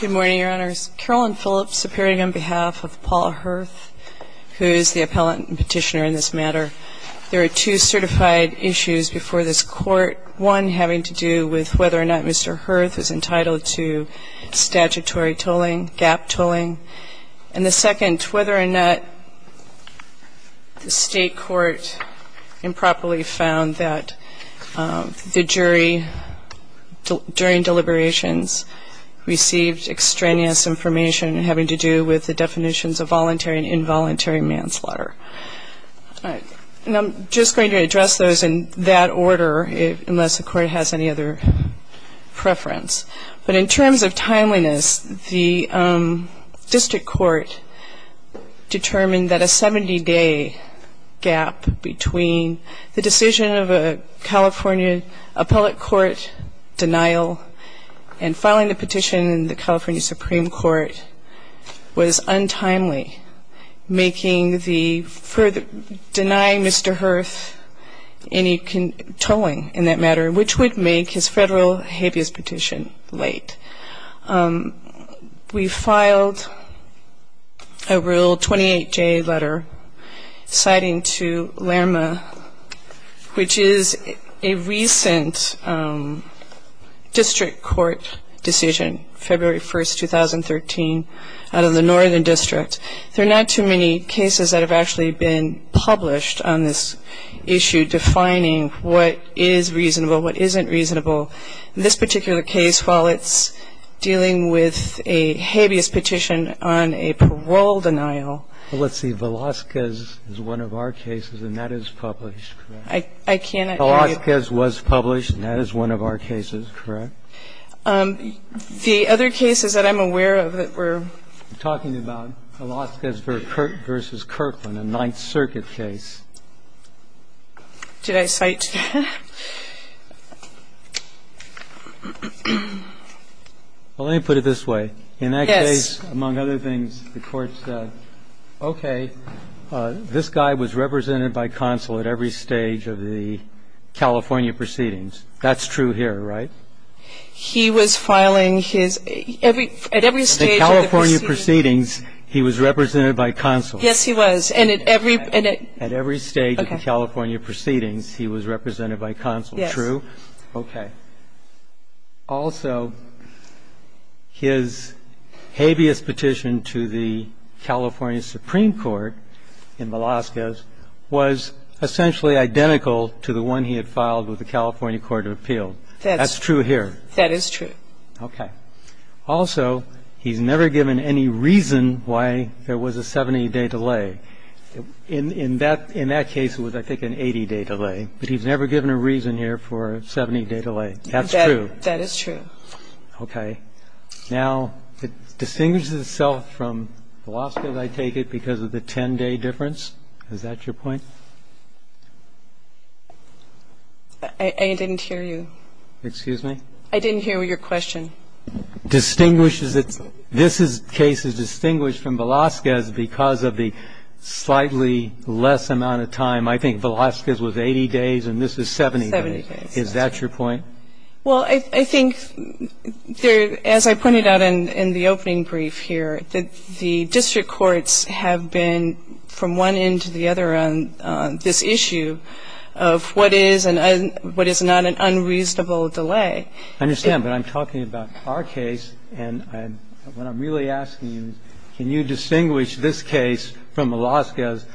Good morning, Your Honors. Carolyn Phillips appearing on behalf of Paul Hurth, who is the appellant and petitioner in this matter. There are two certified issues before this Court. One having to do with whether or not Mr. Hurth is entitled to statutory tolling, GAP tolling. And the second, whether or not the state court improperly found that the jury, during deliberations, received extraneous information having to do with the definitions of voluntary and involuntary manslaughter. And I'm just going to address those in that order, unless the Court has any other preference. But in terms of timeliness, the district court determined that a 70-day gap between the decision of a California appellate court denial and filing the petition in the California Supreme Court was untimely, denying Mr. Hurth any tolling in that matter, which would make his federal habeas petition late. We filed a Rule 28J letter citing to LERMA, which is a recent district court decision, February 1, 2013, out of the Northern District. There are not too many cases that have actually been published on this issue defining what is reasonable, what isn't reasonable. In this particular case, while it's dealing with a habeas petition on a parole denial. Well, let's see. Velazquez is one of our cases, and that is published, correct? I cannot hear you. Velazquez was published, and that is one of our cases, correct? The other cases that I'm aware of that were ---- We're talking about Velazquez v. Kirkland, a Ninth Circuit case. Did I cite ---- Well, let me put it this way. Yes. In that case, among other things, the court said, okay, this guy was represented by counsel at every stage of the California proceedings. That's true here, right? He was filing his ---- At every stage of the proceedings. At the California proceedings, he was represented by counsel. Yes, he was. And at every ---- At every stage of the California proceedings, he was represented by counsel. Yes. True? Okay. Also, his habeas petition to the California Supreme Court in Velazquez was essentially identical to the one he had filed with the California Court of Appeals. That's true here. That is true. Okay. In that case, he was represented by counsel at every stage of the proceedings. That's true here. Also, he's never given any reason why there was a 70-day delay. In that case, it was, I think, an 80-day delay. But he's never given a reason here for a 70-day delay. That's true. That is true. Okay. Now, it distinguishes itself from Velazquez, I take it, because of the 10-day difference. Is that your point? I didn't hear you. Excuse me? I didn't hear your question. Distinguishes itself. This case is distinguished from Velazquez because of the slightly less amount of time. I think Velazquez was 80 days, and this is 70 days. Seventy days. Is that your point? Well, I think there, as I pointed out in the opening brief here, that the district courts have been from one end to the other on this issue of what is and what is not an unreasonable delay. I understand. But I'm talking about our case. And what I'm really asking you is can you distinguish this case from Velazquez's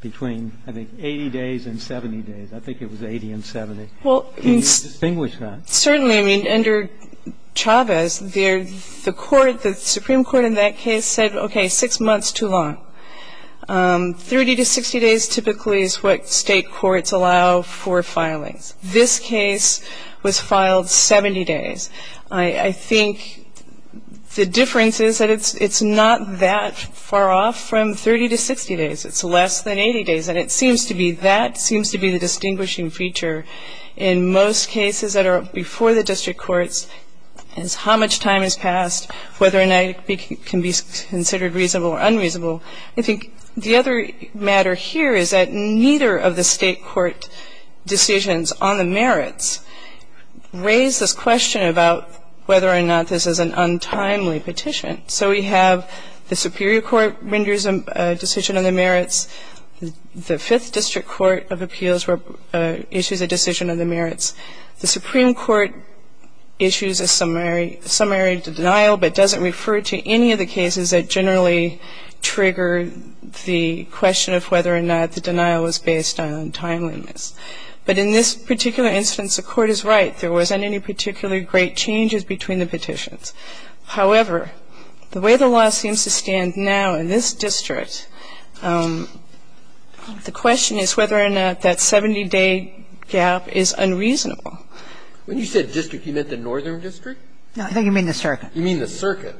between, I think, 80 days and 70 days. I think it was 80 and 70. Can you distinguish that? Certainly. I mean, under Chavez, the Supreme Court in that case said, okay, six months is too long. 30 to 60 days typically is what state courts allow for filings. This case was filed 70 days. I think the difference is that it's not that far off from 30 to 60 days. It's less than 80 days. And it seems to be that seems to be the distinguishing feature in most cases that are before the district courts is how much time has passed, whether or not it can be considered reasonable or unreasonable. I think the other matter here is that neither of the state court decisions on the merits raise this question about whether or not this is an untimely petition. So we have the Superior Court renders a decision on the merits. The Fifth District Court of Appeals issues a decision on the merits. The Supreme Court issues a summary denial but doesn't refer to any of the cases that generally trigger the question of whether or not the denial was based on timeliness. But in this particular instance, the court is right. There wasn't any particularly great changes between the petitions. However, the way the law seems to stand now in this district, the question is whether or not that 70-day gap is unreasonable. When you said district, you meant the northern district? No, I think you mean the circuit. You mean the circuit.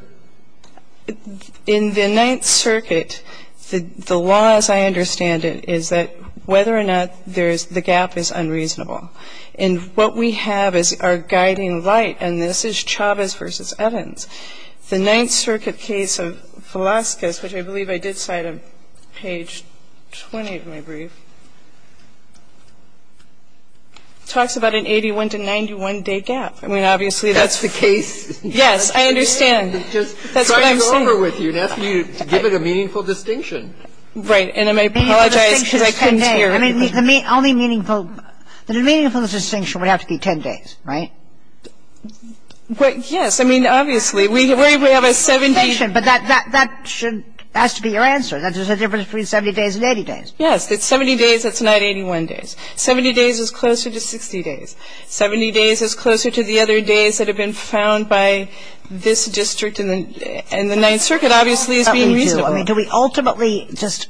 In the Ninth Circuit, the law as I understand it is that whether or not the gap is unreasonable. And what we have is our guiding light, and this is Chavez v. Eddins. The Ninth Circuit case of Velazquez, which I believe I did cite on page 20 of my brief, talks about an 81-to-91-day gap. I mean, obviously that's the case. Yes, I understand. That's what I'm saying. Trying to go over with you and asking you to give it a meaningful distinction. Right. And I apologize because I couldn't hear. The only meaningful distinction would have to be 10 days, right? Yes. I mean, obviously, we have a 70- But that has to be your answer, that there's a difference between 70 days and 80 days. Yes. If it's 70 days, it's not 81 days. 70 days is closer to 60 days. 70 days is closer to the other days that have been found by this district, and the Ninth Circuit obviously is being reasonable. I mean, do we ultimately just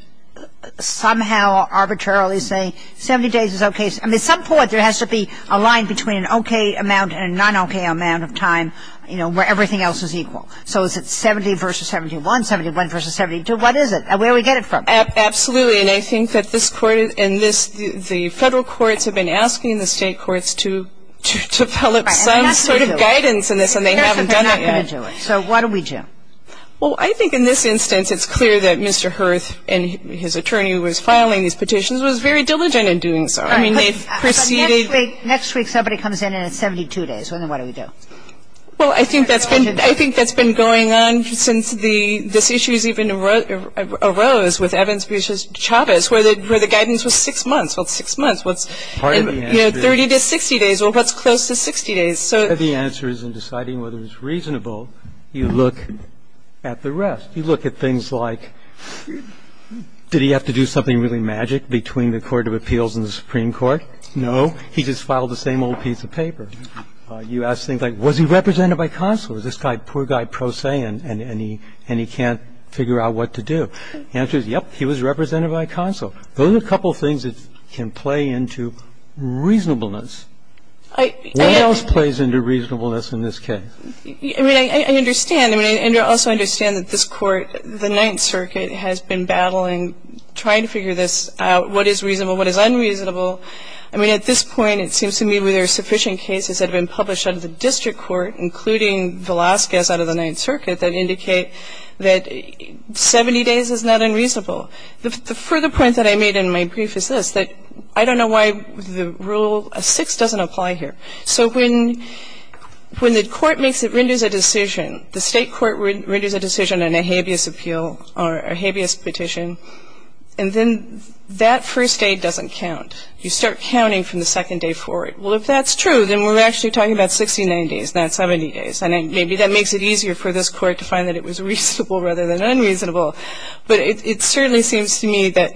somehow arbitrarily say 70 days is okay? I mean, at some point, there has to be a line between an okay amount and a non-okay amount of time, you know, where everything else is equal. So is it 70 versus 71, 71 versus 72? What is it? Where do we get it from? Absolutely. And I think that this Court and this the Federal courts have been asking the State courts to develop some sort of guidance in this, and they haven't done it yet. So what do we do? Well, I think in this instance, it's clear that Mr. Hurth and his attorney who was filing these petitions was very diligent in doing so. I mean, they've proceeded. Next week somebody comes in and it's 72 days. Well, then what do we do? Well, I think that's been going on since this issue even arose with Evans v. Chavez where the guidance was 6 months. Well, it's 6 months. You know, 30 to 60 days. Well, what's close to 60 days? The answer is in deciding whether it's reasonable, you look at the rest. You look at things like did he have to do something really magic between the court of appeals and the Supreme Court? No. He just filed the same old piece of paper. You ask things like was he represented by counsel? Is this poor guy pro se and he can't figure out what to do? The answer is, yes, he was represented by counsel. Those are a couple of things that can play into reasonableness. What else plays into reasonableness in this case? I mean, I understand. I also understand that this Court, the Ninth Circuit, has been battling, trying to figure this out, what is reasonable, what is unreasonable. I mean, at this point it seems to me there are sufficient cases that have been published out of the district court, including Velazquez out of the Ninth Circuit, that indicate that 70 days is not unreasonable. The further point that I made in my brief is this, that I don't know why the rule 6 doesn't apply here. So when the court renders a decision, the state court renders a decision on a habeas appeal or a habeas petition, and then that first day doesn't count. You start counting from the second day forward. Well, if that's true, then we're actually talking about 60, 90 days, not 70 days. And maybe that makes it easier for this Court to find that it was reasonable rather than unreasonable. But it certainly seems to me that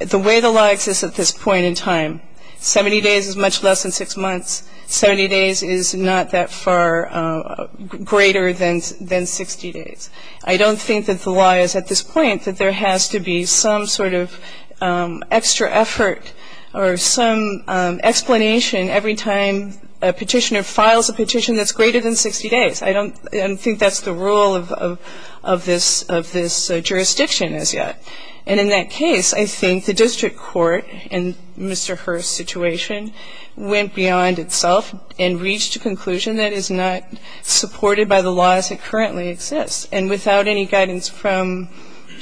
the way the law exists at this point in time, 70 days is much less than 6 months. 70 days is not that far greater than 60 days. I don't think that the law is at this point that there has to be some sort of extra effort or some explanation every time a petitioner files a petition that's greater than 60 days. I don't think that's the rule of this jurisdiction as yet. And in that case, I think the district court in Mr. Hurth's situation went beyond itself and reached a conclusion that is not supported by the laws that currently exist. And without any guidance from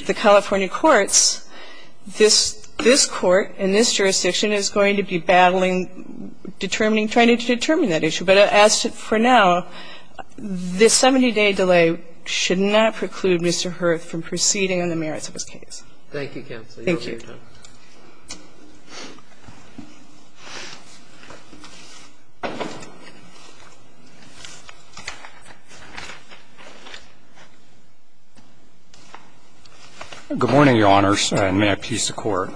the California courts, this court in this jurisdiction is going to be battling, determining, trying to determine that issue. But as for now, this 70-day delay should not preclude Mr. Hurth from proceeding on the merits of his case. Thank you, counsel. You have your time. Thank you. Good morning, Your Honors, and may it please the Court.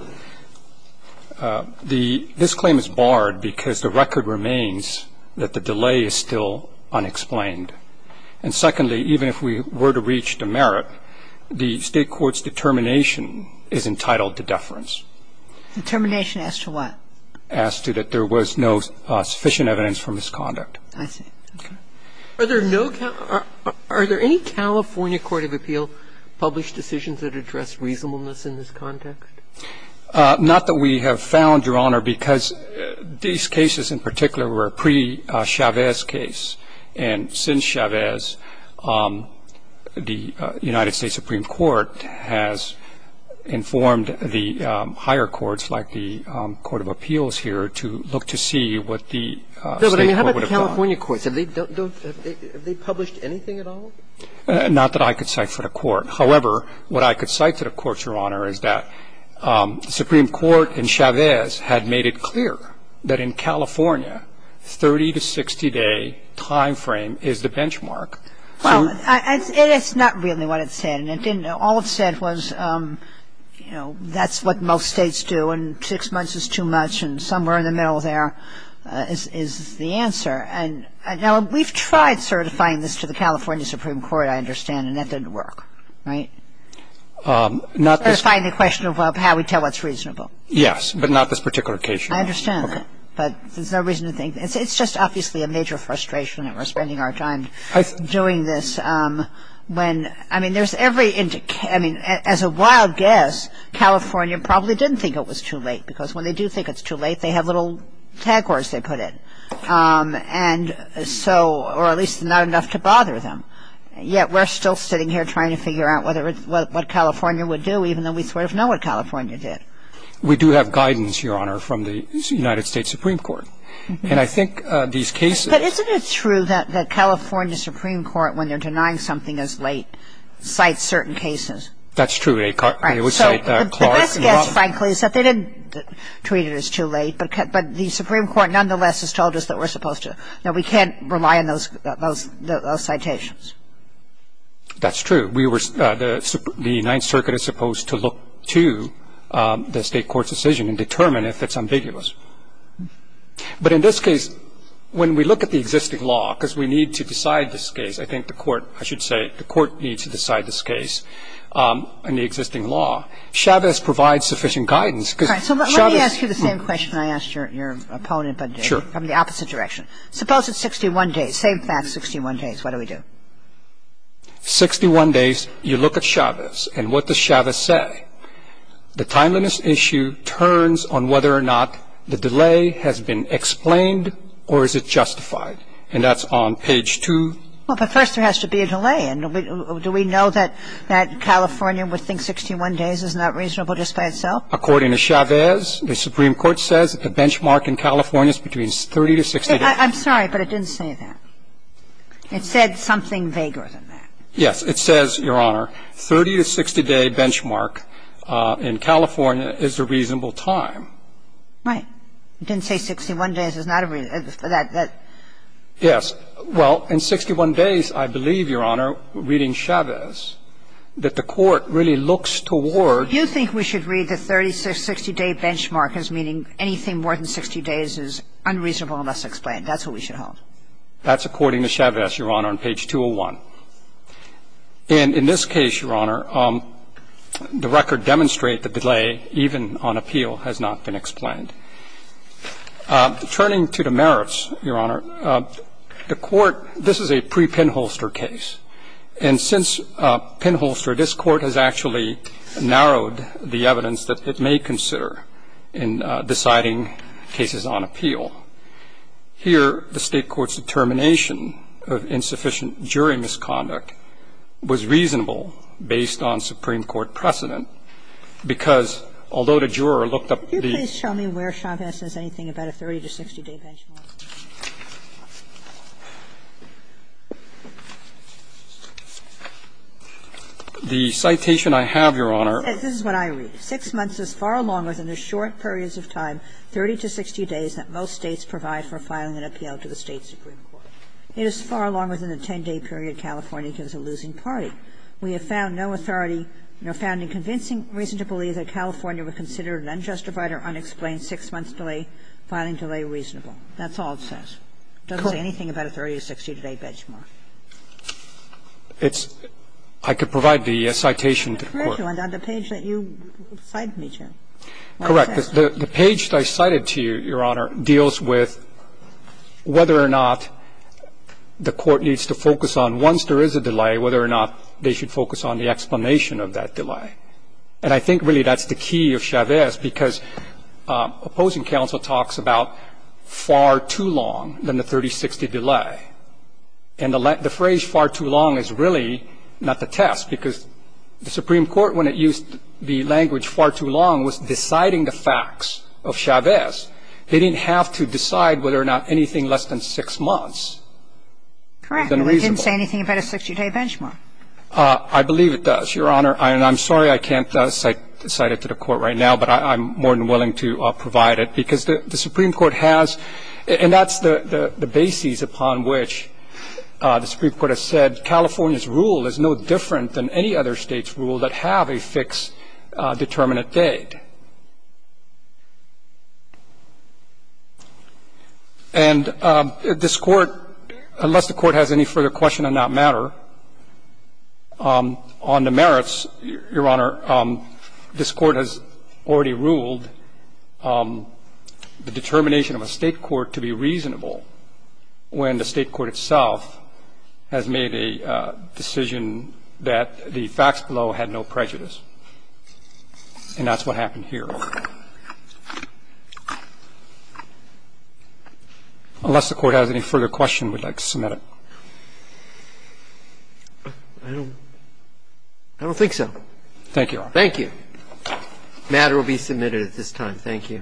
This claim is barred because the record remains that the delay is still unexplained. And secondly, even if we were to reach the merit, the State court's determination is entitled to deference. Determination as to what? As to that there was no sufficient evidence for misconduct. I see. Okay. Are there no Cal – are there any California court of appeal published decisions that address reasonableness in this context? Not that we have found, Your Honor, because these cases in particular were a pre-Chavez case, and since Chavez, the United States Supreme Court has informed the higher courts, like the court of appeals here, to look to see what the State court would have done. No, but I mean, how about the California courts? Have they published anything at all? Not that I could cite for the Court. However, what I could cite for the Court, Your Honor, is that the Supreme Court in Chavez had made it clear that in California, 30- to 60-day timeframe is the benchmark. Well, it's not really what it said. All it said was, you know, that's what most states do, and six months is too much, and somewhere in the middle there is the answer. Now, we've tried certifying this to the California Supreme Court, I understand, and that didn't work. Right? Certifying the question of how we tell what's reasonable. Yes, but not this particular case. I understand that. Okay. But there's no reason to think. It's just obviously a major frustration that we're spending our time doing this when, I mean, there's every indication. I mean, as a wild guess, California probably didn't think it was too late, because when they do think it's too late, they have little tag words they put in, or at least not enough to bother them. Yet we're still sitting here trying to figure out what California would do, even though we sort of know what California did. We do have guidance, Your Honor, from the United States Supreme Court. And I think these cases — But isn't it true that the California Supreme Court, when they're denying something as late, cites certain cases? That's true. They would cite Clark and — Right. So the best guess, frankly, is that they didn't treat it as too late, but the Supreme Court nonetheless has told us that we're supposed to — that we can't rely on those citations. That's true. But in this case, when we look at the existing law, because we need to decide this case, I think the court — I should say the court needs to decide this case in the existing law. Chavez provides sufficient guidance, because Chavez — All right. So let me ask you the same question I asked your opponent, but — Sure. — from the opposite direction. Suppose it's 61 days. Save that 61 days. What do we do? 61 days. You look at Chavez. And what does Chavez say? The timeliness issue turns on whether or not the delay has been explained or is it justified. And that's on page 2. Well, but first there has to be a delay. And do we know that California would think 61 days is not reasonable just by itself? According to Chavez, the Supreme Court says that the benchmark in California is between 30 to 60 days. I'm sorry, but it didn't say that. It said something vaguer than that. Yes. It says, Your Honor, 30 to 60-day benchmark in California is a reasonable time. Right. It didn't say 61 days is not a — Yes. Well, in 61 days, I believe, Your Honor, reading Chavez, that the court really looks toward — You think we should read the 30 to 60-day benchmark as meaning anything more than 60 days is unreasonable unless explained. That's what we should hold. That's according to Chavez, Your Honor, on page 201. And in this case, Your Honor, the record demonstrate the delay even on appeal has not been explained. Turning to the merits, Your Honor, the court — this is a pre-Pinholster case. And since Pinholster, this court has actually narrowed the evidence that it may consider in deciding cases on appeal. Here, the State court's determination of insufficient jury misconduct was reasonable based on Supreme Court precedent, because although the juror looked up the — Could you please show me where Chavez says anything about a 30 to 60-day benchmark? The citation I have, Your Honor — This is what I read. Six months is far longer than the short periods of time, 30 to 60 days, that most States provide for filing an appeal to the State supreme court. It is far longer than the 10-day period California gives a losing party. We have found no authority, no founding convincing reason to believe that California would consider an unjustified or unexplained 6-month delay, filing delay, reasonable. That's all it says. It doesn't say anything about a 30 to 60-day benchmark. It's — I could provide the citation to the court. The page that you cited me to. Correct. The page that I cited to you, Your Honor, deals with whether or not the court needs to focus on, once there is a delay, whether or not they should focus on the explanation of that delay. And I think really that's the key of Chavez, because opposing counsel talks about far too long than the 30-60 delay. And the phrase far too long is really not the test, because the Supreme Court, when it used the language far too long, was deciding the facts of Chavez. They didn't have to decide whether or not anything less than 6 months was unreasonable. Correct. And it didn't say anything about a 60-day benchmark. I believe it does, Your Honor. And I'm sorry I can't cite it to the court right now, but I'm more than willing to provide it. And I think that's the key to the case, because the Supreme Court has — and that's the basis upon which the Supreme Court has said, California's rule is no different than any other State's rule that have a fixed determinate date. And this Court, unless the Court has any further question on that matter, on the merits, Your Honor, this Court has already ruled the determination of a State court to be reasonable when the State court itself has made a decision that the facts below had no prejudice. And that's what happened here. Unless the Court has any further question, we'd like to submit it. I don't think so. Thank you, Your Honor. Thank you. The matter will be submitted at this time. Thank you.